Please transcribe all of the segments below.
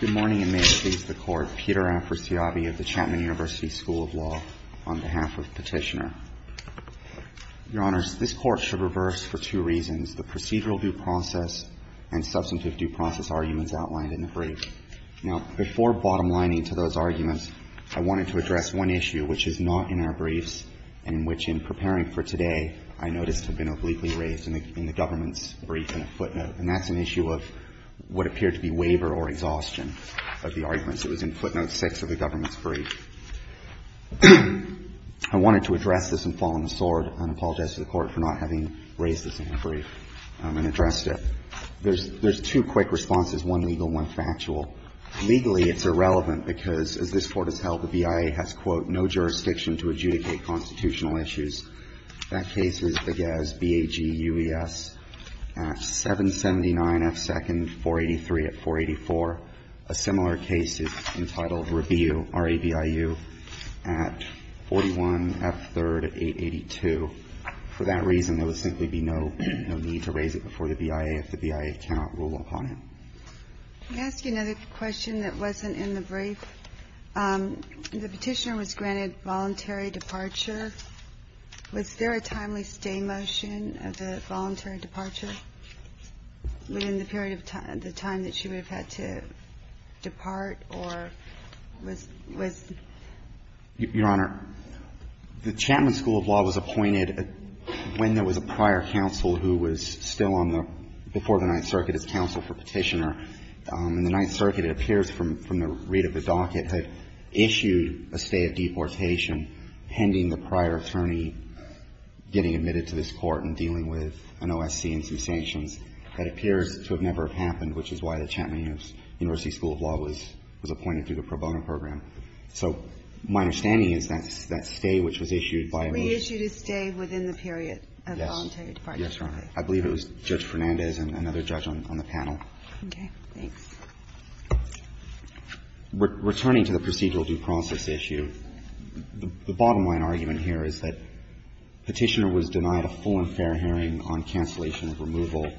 Good morning, and may it please the Court. Peter Afrasiabi of the Chapman University School of Law, on behalf of Petitioner. Your Honors, this Court should reverse for two reasons, the procedural due process and substantive due process arguments outlined in the brief. Now, before bottom-lining to those arguments, I wanted to address one issue which is not in our briefs and which, in preparing for today, I noticed had been obliquely raised in the government's brief in a footnote. And that's an issue of what appeared to be waiver or exhaustion of the arguments. It was in footnote 6 of the government's brief. I wanted to address this and fall on the sword and apologize to the Court for not having raised this in the brief and addressed it. There's two quick responses, one legal, one factual. Legally, it's irrelevant because, as this Court has held, the BIA has, quote, no jurisdiction to adjudicate constitutional issues. That case was Begez, B-A-G-U-E-S, at 779 F. 2nd, 483 at 484. A similar case is entitled Rabiu, R-A-B-I-U, at 41 F. 3rd, 882. For that reason, there would simply be no need to raise it before the BIA if the BIA cannot rule upon it. Let me ask you another question that wasn't in the brief. The Petitioner was granted voluntary departure. Was there a timely stay motion of the voluntary departure within the period of time, the time that she would have had to depart, or was, was Your Honor, the Chapman School of Law was appointed when there was a prior counsel who was still on the, before the Ninth Circuit, as counsel for Petitioner. In the Ninth Circuit, it appears from the read of the docket, had issued a stay of deportation pending the prior attorney getting admitted to this Court and dealing with an OSC and some sanctions. That appears to have never happened, which is why the Chapman University School of Law was appointed through the pro bono program. So my understanding is that that stay which was issued by a motion of the chapman school of law was appointed through the pro bono program. Now, returning to the procedural due process issue, the bottom line argument here is that Petitioner was denied a full and fair hearing on cancellation of removal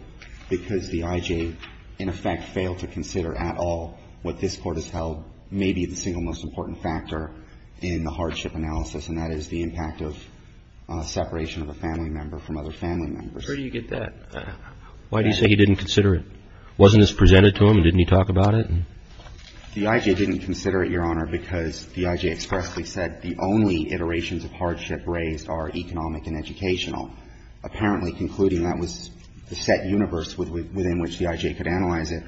because the IJ, in effect, failed to consider at all what this Court has held may be the single most important factor in the hardship analysis, and that is the impact of separation of a family member from other family members. Where do you get that? Why do you say he didn't consider it? Wasn't this presented to him and didn't he talk about it? The IJ didn't consider it, Your Honor, because the IJ expressly said the only iterations of hardship raised are economic and educational, apparently concluding that was the set universe within which the IJ could analyze it,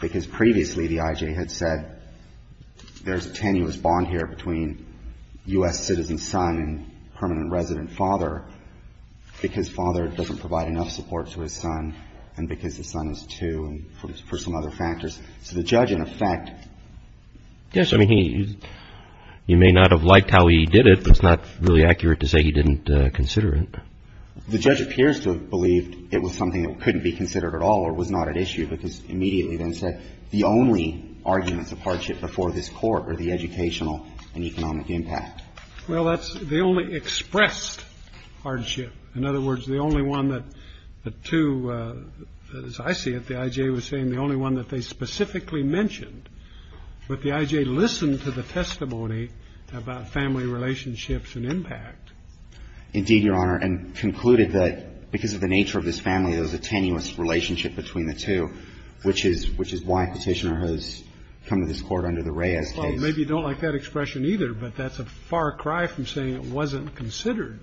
because previously the IJ had said there's a tenuous bond here between U.S. citizens' son and permanent resident father, because father doesn't provide enough support to his son, and because his son is two, and for some other factors. So the judge, in effect ---- Yes, I mean, he may not have liked how he did it, but it's not really accurate to say he didn't consider it. The judge appears to have believed it was something that couldn't be considered at all or was not at issue, but has immediately then said the only arguments of hardship before this Court are the educational and economic impact. Well, that's the only expressed hardship. In other words, the only one that the two ---- as I see it, the IJ was saying the only one that they specifically mentioned, but the IJ listened to the testimony about family relationships and impact. Indeed, Your Honor, and concluded that because of the nature of this family, there was a tenuous relationship between the two, which is why Petitioner has come to this Court under the Reyes case. Well, maybe you don't like that expression either, but that's a far cry from saying it wasn't considered.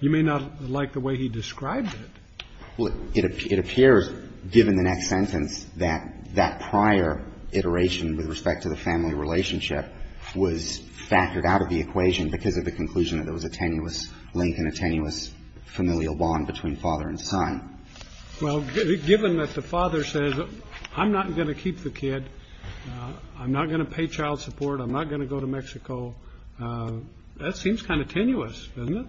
You may not like the way he described it. Well, it appears, given the next sentence, that that prior iteration with respect to the family relationship was factored out of the equation because of the conclusion that there was a tenuous link and a tenuous familial bond between father and son. Well, given that the father says, I'm not going to keep the kid, I'm not going to pay child support, I'm not going to go to Mexico, that seems kind of tenuous, doesn't it?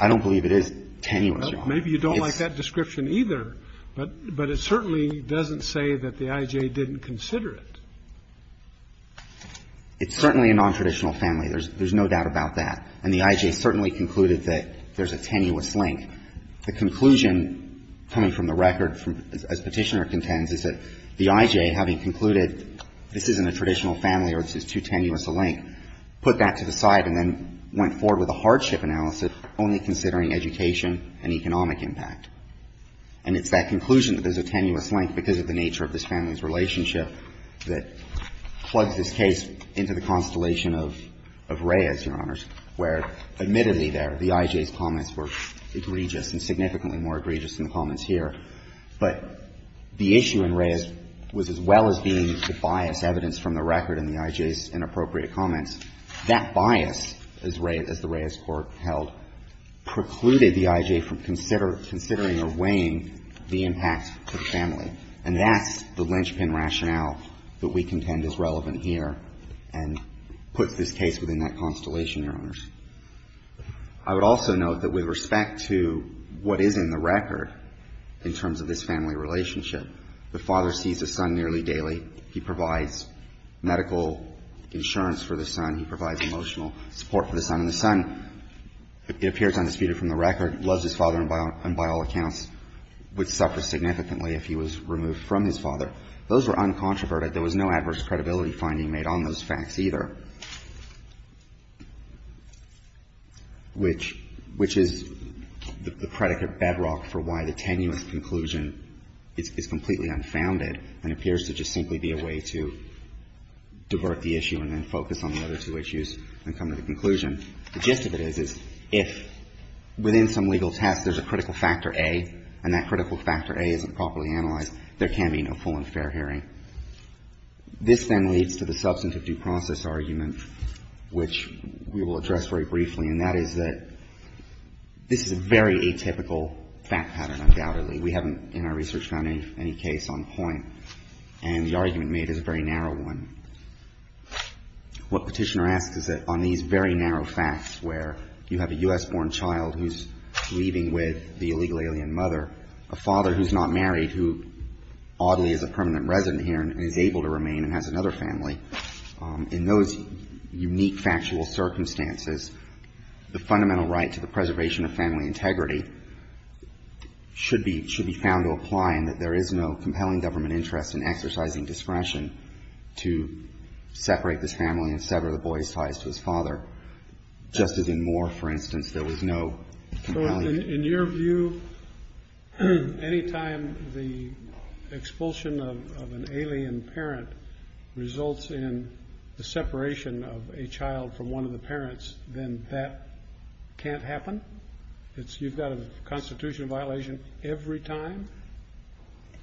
I don't believe it is tenuous, Your Honor. Maybe you don't like that description either, but it certainly doesn't say that the IJ didn't consider it. It's certainly a nontraditional family. There's no doubt about that. And the IJ certainly concluded that there's a tenuous link. The conclusion coming from the record, as Petitioner contends, is that the IJ, having concluded this isn't a traditional family or this is too tenuous a link, put that to the side and then went forward with a hardship analysis only considering education and economic impact. And it's that conclusion that there's a tenuous link because of the nature of this family's relationship that plugs this case into the constellation of Reyes, Your Honors, where, admittedly, there, the IJ's comments were egregious and significantly more egregious than the comments here. But the issue in Reyes was, as well as being a bias evidence from the record and the IJ's inappropriate comments, that bias, as the Reyes court held, precluded the IJ from considering or weighing the impact of the family. And that's the linchpin rationale that we contend is relevant here and puts this case within that constellation, Your Honors. I would also note that with respect to what is in the record in terms of this family relationship, the father sees his son nearly daily. He provides medical insurance for the son. He provides emotional support for the son. And the son, it appears undisputed from the record, loves his father and by all accounts would suffer significantly if he was removed from his father. Those were uncontroverted. There was no adverse credibility finding made on those facts either. And so, in the record, which is the predicate bedrock for why the tenuous conclusion is completely unfounded and appears to just simply be a way to divert the issue and then focus on the other two issues and come to the conclusion, the gist of it is, is if within some legal test there's a critical factor A and that critical factor A isn't properly analyzed, there can be no full and fair hearing. This then leads to the substantive due process argument, which we will address very briefly, and that is that this is a very atypical fact pattern, undoubtedly. We haven't in our research found any case on point, and the argument made is a very narrow one. What Petitioner asks is that on these very narrow facts, where you have a U.S.-born child who's leaving with the illegal alien mother, a father who's not married, who oddly is a permanent resident here and is able to remain and has another family, in those unique factual circumstances, the fundamental right to the preservation of family integrity should be found to apply and that there is no compelling government interest in exercising discretion to separate this family and sever the boy's ties to his father, just as in Moore, for instance, there was no compelling interest. Any time the expulsion of an alien parent results in the separation of a child from one of the parents, then that can't happen? You've got a constitutional violation every time?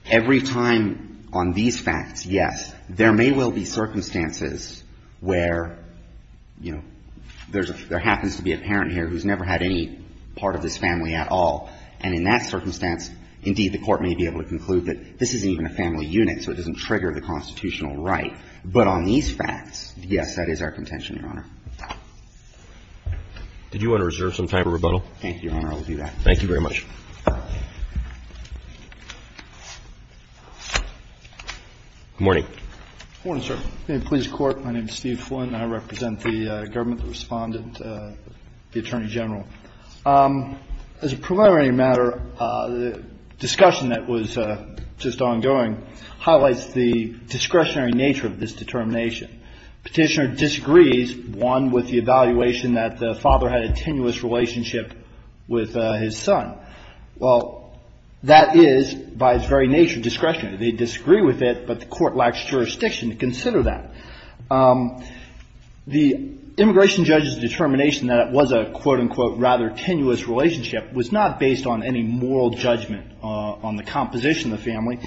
Every time on these facts, yes. There may well be circumstances where, you know, there happens to be a parent here who's never had any part of this family at all, and in that circumstance, indeed, the Court may be able to conclude that this isn't even a family unit, so it doesn't trigger the constitutional right, but on these facts, yes, that is our contention, Your Honor. Did you want to reserve some time for rebuttal? Thank you, Your Honor. I will do that. Thank you very much. Good morning. Good morning, sir. In the police court, my name is Steve Flynn. I represent the government respondent, the Attorney General. As a preliminary matter, the discussion that was just ongoing highlights the discretionary nature of this determination. Petitioner disagrees, one, with the evaluation that the father had a tenuous relationship with his son. Well, that is, by its very nature, discretionary. They disagree with it, but the Court lacks jurisdiction to consider that. The immigration judge's determination that it was a, quote, unquote, rather tenuous relationship was not based on any moral judgment on the composition of the family.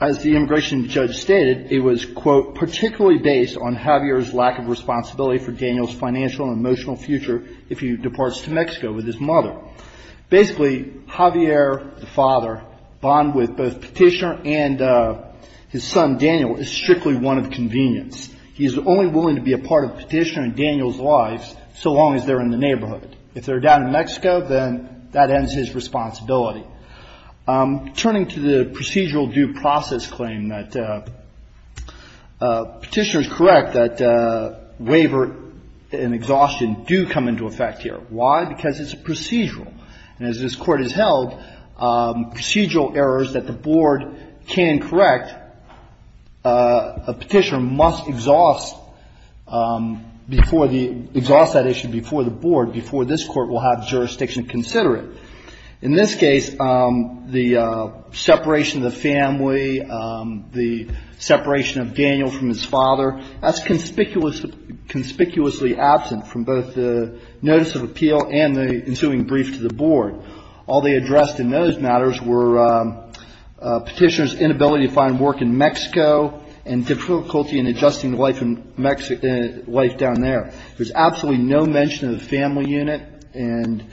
As the immigration judge stated, it was, quote, particularly based on Javier's lack of responsibility for Daniel's financial and emotional future if he departs to Mexico with his mother. Basically, Javier, the father, bond with both Petitioner and his son Daniel is strictly one of convenience. He is only willing to be a part of Petitioner and Daniel's lives so long as they're in the neighborhood. If they're down in Mexico, then that ends his responsibility. Turning to the procedural due process claim that Petitioner is correct that waiver and exhaustion do come into effect here. Why? Because it's a procedural, and as this Court has held, procedural errors that the board can correct, Petitioner must exhaust before the, exhaust that issue before the board, before this Court will have jurisdiction to consider it. In this case, the separation of the family, the separation of Daniel from his father, that's conspicuously absent from both the notice of appeal and the ensuing brief to the board. All they addressed in those matters were Petitioner's inability to find work in Mexico and difficulty in adjusting life in Mexico, life down there. There's absolutely no mention of the family unit and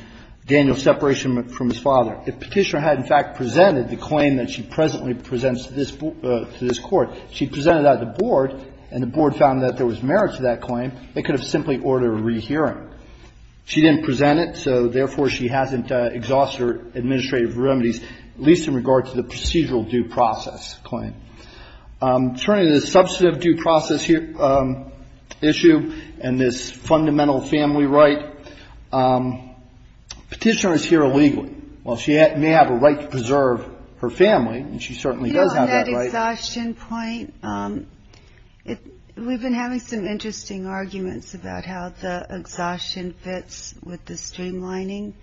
Daniel's separation from his father. If Petitioner had in fact presented the claim that she presently presents to this, to this Court, she presented that to the board, and the board found that there was merit to that claim, they could have simply ordered a rehearing. She didn't present it, so therefore she hasn't exhausted her administrative remedies, at least in regard to the procedural due process claim. Turning to the substantive due process issue and this fundamental family right, Petitioner is here illegally. While she may have a right to preserve her family, and she certainly does have that right. Exhaustion point, we've been having some interesting arguments about how the exhaustion fits with the streamlining,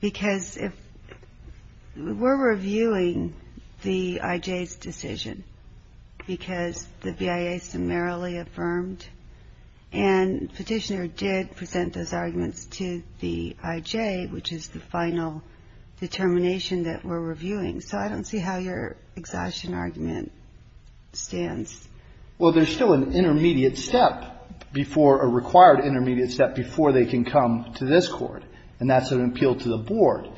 because if we're reviewing the IJ's decision, because the BIA summarily affirmed, and Petitioner did present those arguments to the IJ, which is the final determination that we're reviewing. So I don't see how your exhaustion argument stands. Well, there's still an intermediate step before, a required intermediate step before they can come to this Court, and that's an appeal to the board.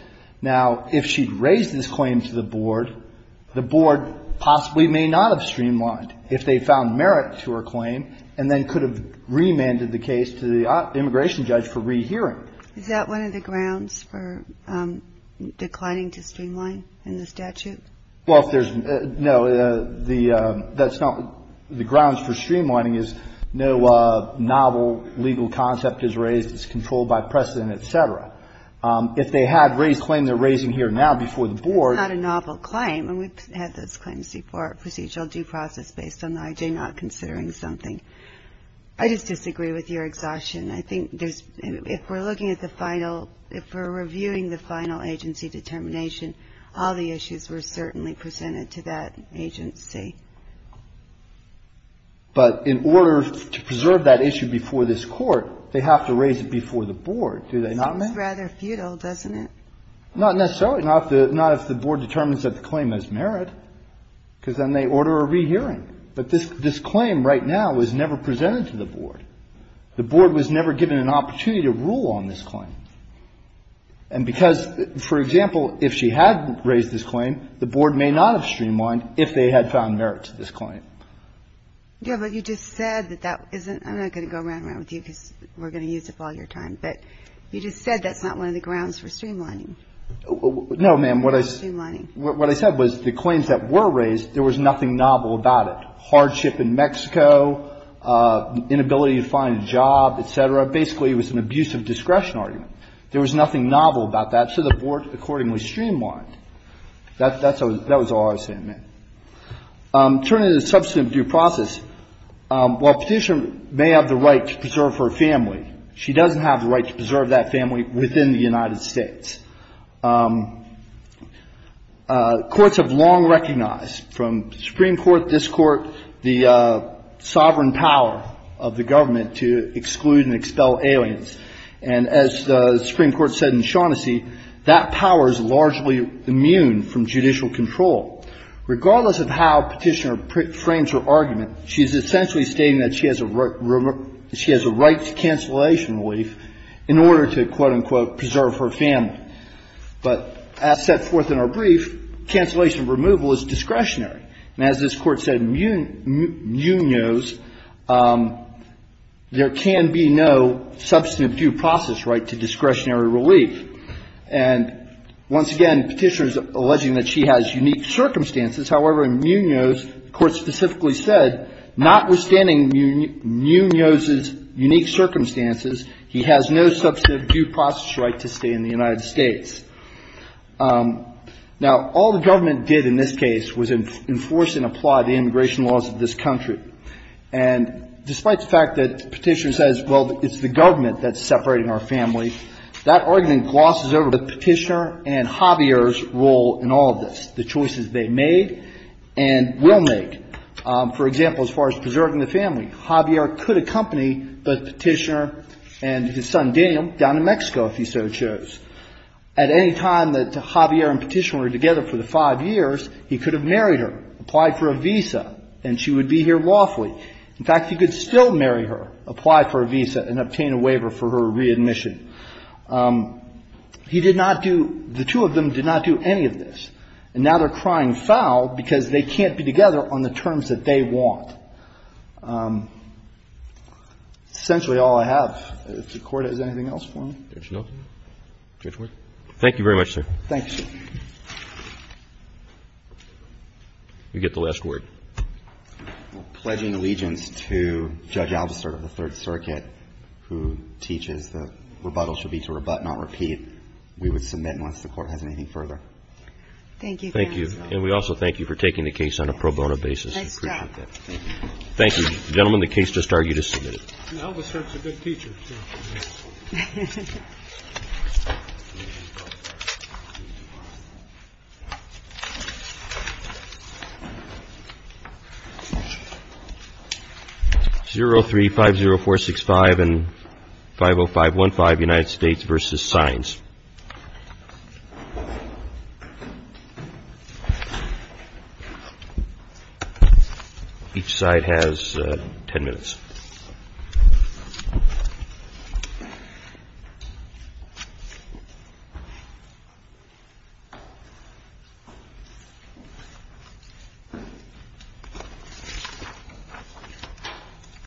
Now, if she'd raised this claim to the board, the board possibly may not have streamlined if they found merit to her claim, and then could have remanded the case to the immigration judge for rehearing. Is that one of the grounds for declining to streamline in the statute? Well, if there's, no, that's not, the grounds for streamlining is no novel legal concept is raised, it's controlled by precedent, et cetera. If they had raised, claimed they're raising here now before the board. It's not a novel claim, and we've had those claims before, procedural due process based on the IJ not considering something. I just disagree with your exhaustion. I think there's, if we're looking at the final, if we're reviewing the final agency determination, all the issues were certainly presented to that agency. But in order to preserve that issue before this Court, they have to raise it before the board. Do they not? Seems rather futile, doesn't it? Not necessarily. Not if the board determines that the claim has merit, because then they order a rehearing. But this claim right now was never presented to the board. The board was never given an opportunity to rule on this claim. And because, for example, if she had raised this claim, the board may not have streamlined if they had found merit to this claim. Yeah, but you just said that that isn't, I'm not going to go around and around with you because we're going to use up all your time, but you just said that's not one of the grounds for streamlining. No, ma'am, what I, what I said was the claims that were raised, there was nothing novel about it. Hardship in Mexico, inability to find a job, et cetera, basically it was an abuse of discretion argument. There was nothing novel about that, so the board accordingly streamlined. That was all I was saying, ma'am. Turning to the substantive due process, while Petitioner may have the right to preserve her family, she doesn't have the right to preserve that family within the United States. Courts have long recognized from the Supreme Court, this Court, the sovereign power of the government to exclude and expel aliens. And as the Supreme Court said in Shaughnessy, that power is largely immune from judicial control. Regardless of how Petitioner frames her argument, she is essentially stating that she has a right to cancellation relief in order to, quote, unquote, preserve her family. But as set forth in our brief, cancellation removal is discretionary. And as this Court said in Munoz, there can be no substantive due process right to discretionary relief. And once again, Petitioner is alleging that she has unique circumstances. However, in Munoz, the Court specifically said, notwithstanding Munoz's unique circumstances, he has no substantive due process right to stay in the United States. Now, all the government did in this case was enforce and apply the immigration laws of this country. And despite the fact that Petitioner says, well, it's the government that's separating our family, that argument glosses over Petitioner and Javier's role in all of this, the choices they made and will make. For example, as far as preserving the family, Javier could accompany both Petitioner and his son, Daniel, down to Mexico if he so chose. At any time that Javier and Petitioner were together for the five years, he could have married her, applied for a visa, and she would be here lawfully. In fact, he could still marry her, apply for a visa, and obtain a waiver for her readmission. He did not do – the two of them did not do any of this. And now they're crying foul because they can't be together on the terms that they want. That's essentially all I have. If the Court has anything else for me. Roberts. Thank you very much, sir. Thank you, sir. You get the last word. I'm pledging allegiance to Judge Albasert of the Third Circuit, who teaches that rebuttal should be to rebut, not repeat. We would submit unless the Court has anything further. Thank you, counsel. Thank you. And we also thank you for taking the case on a pro bono basis. I appreciate that. Nice job. Thank you. Gentlemen, the case just argued is submitted. Albasert's a good teacher. 0-3-5-0-4-6-5 and 5-0-5-1-5, United States v. Signs. Each side has 10 minutes.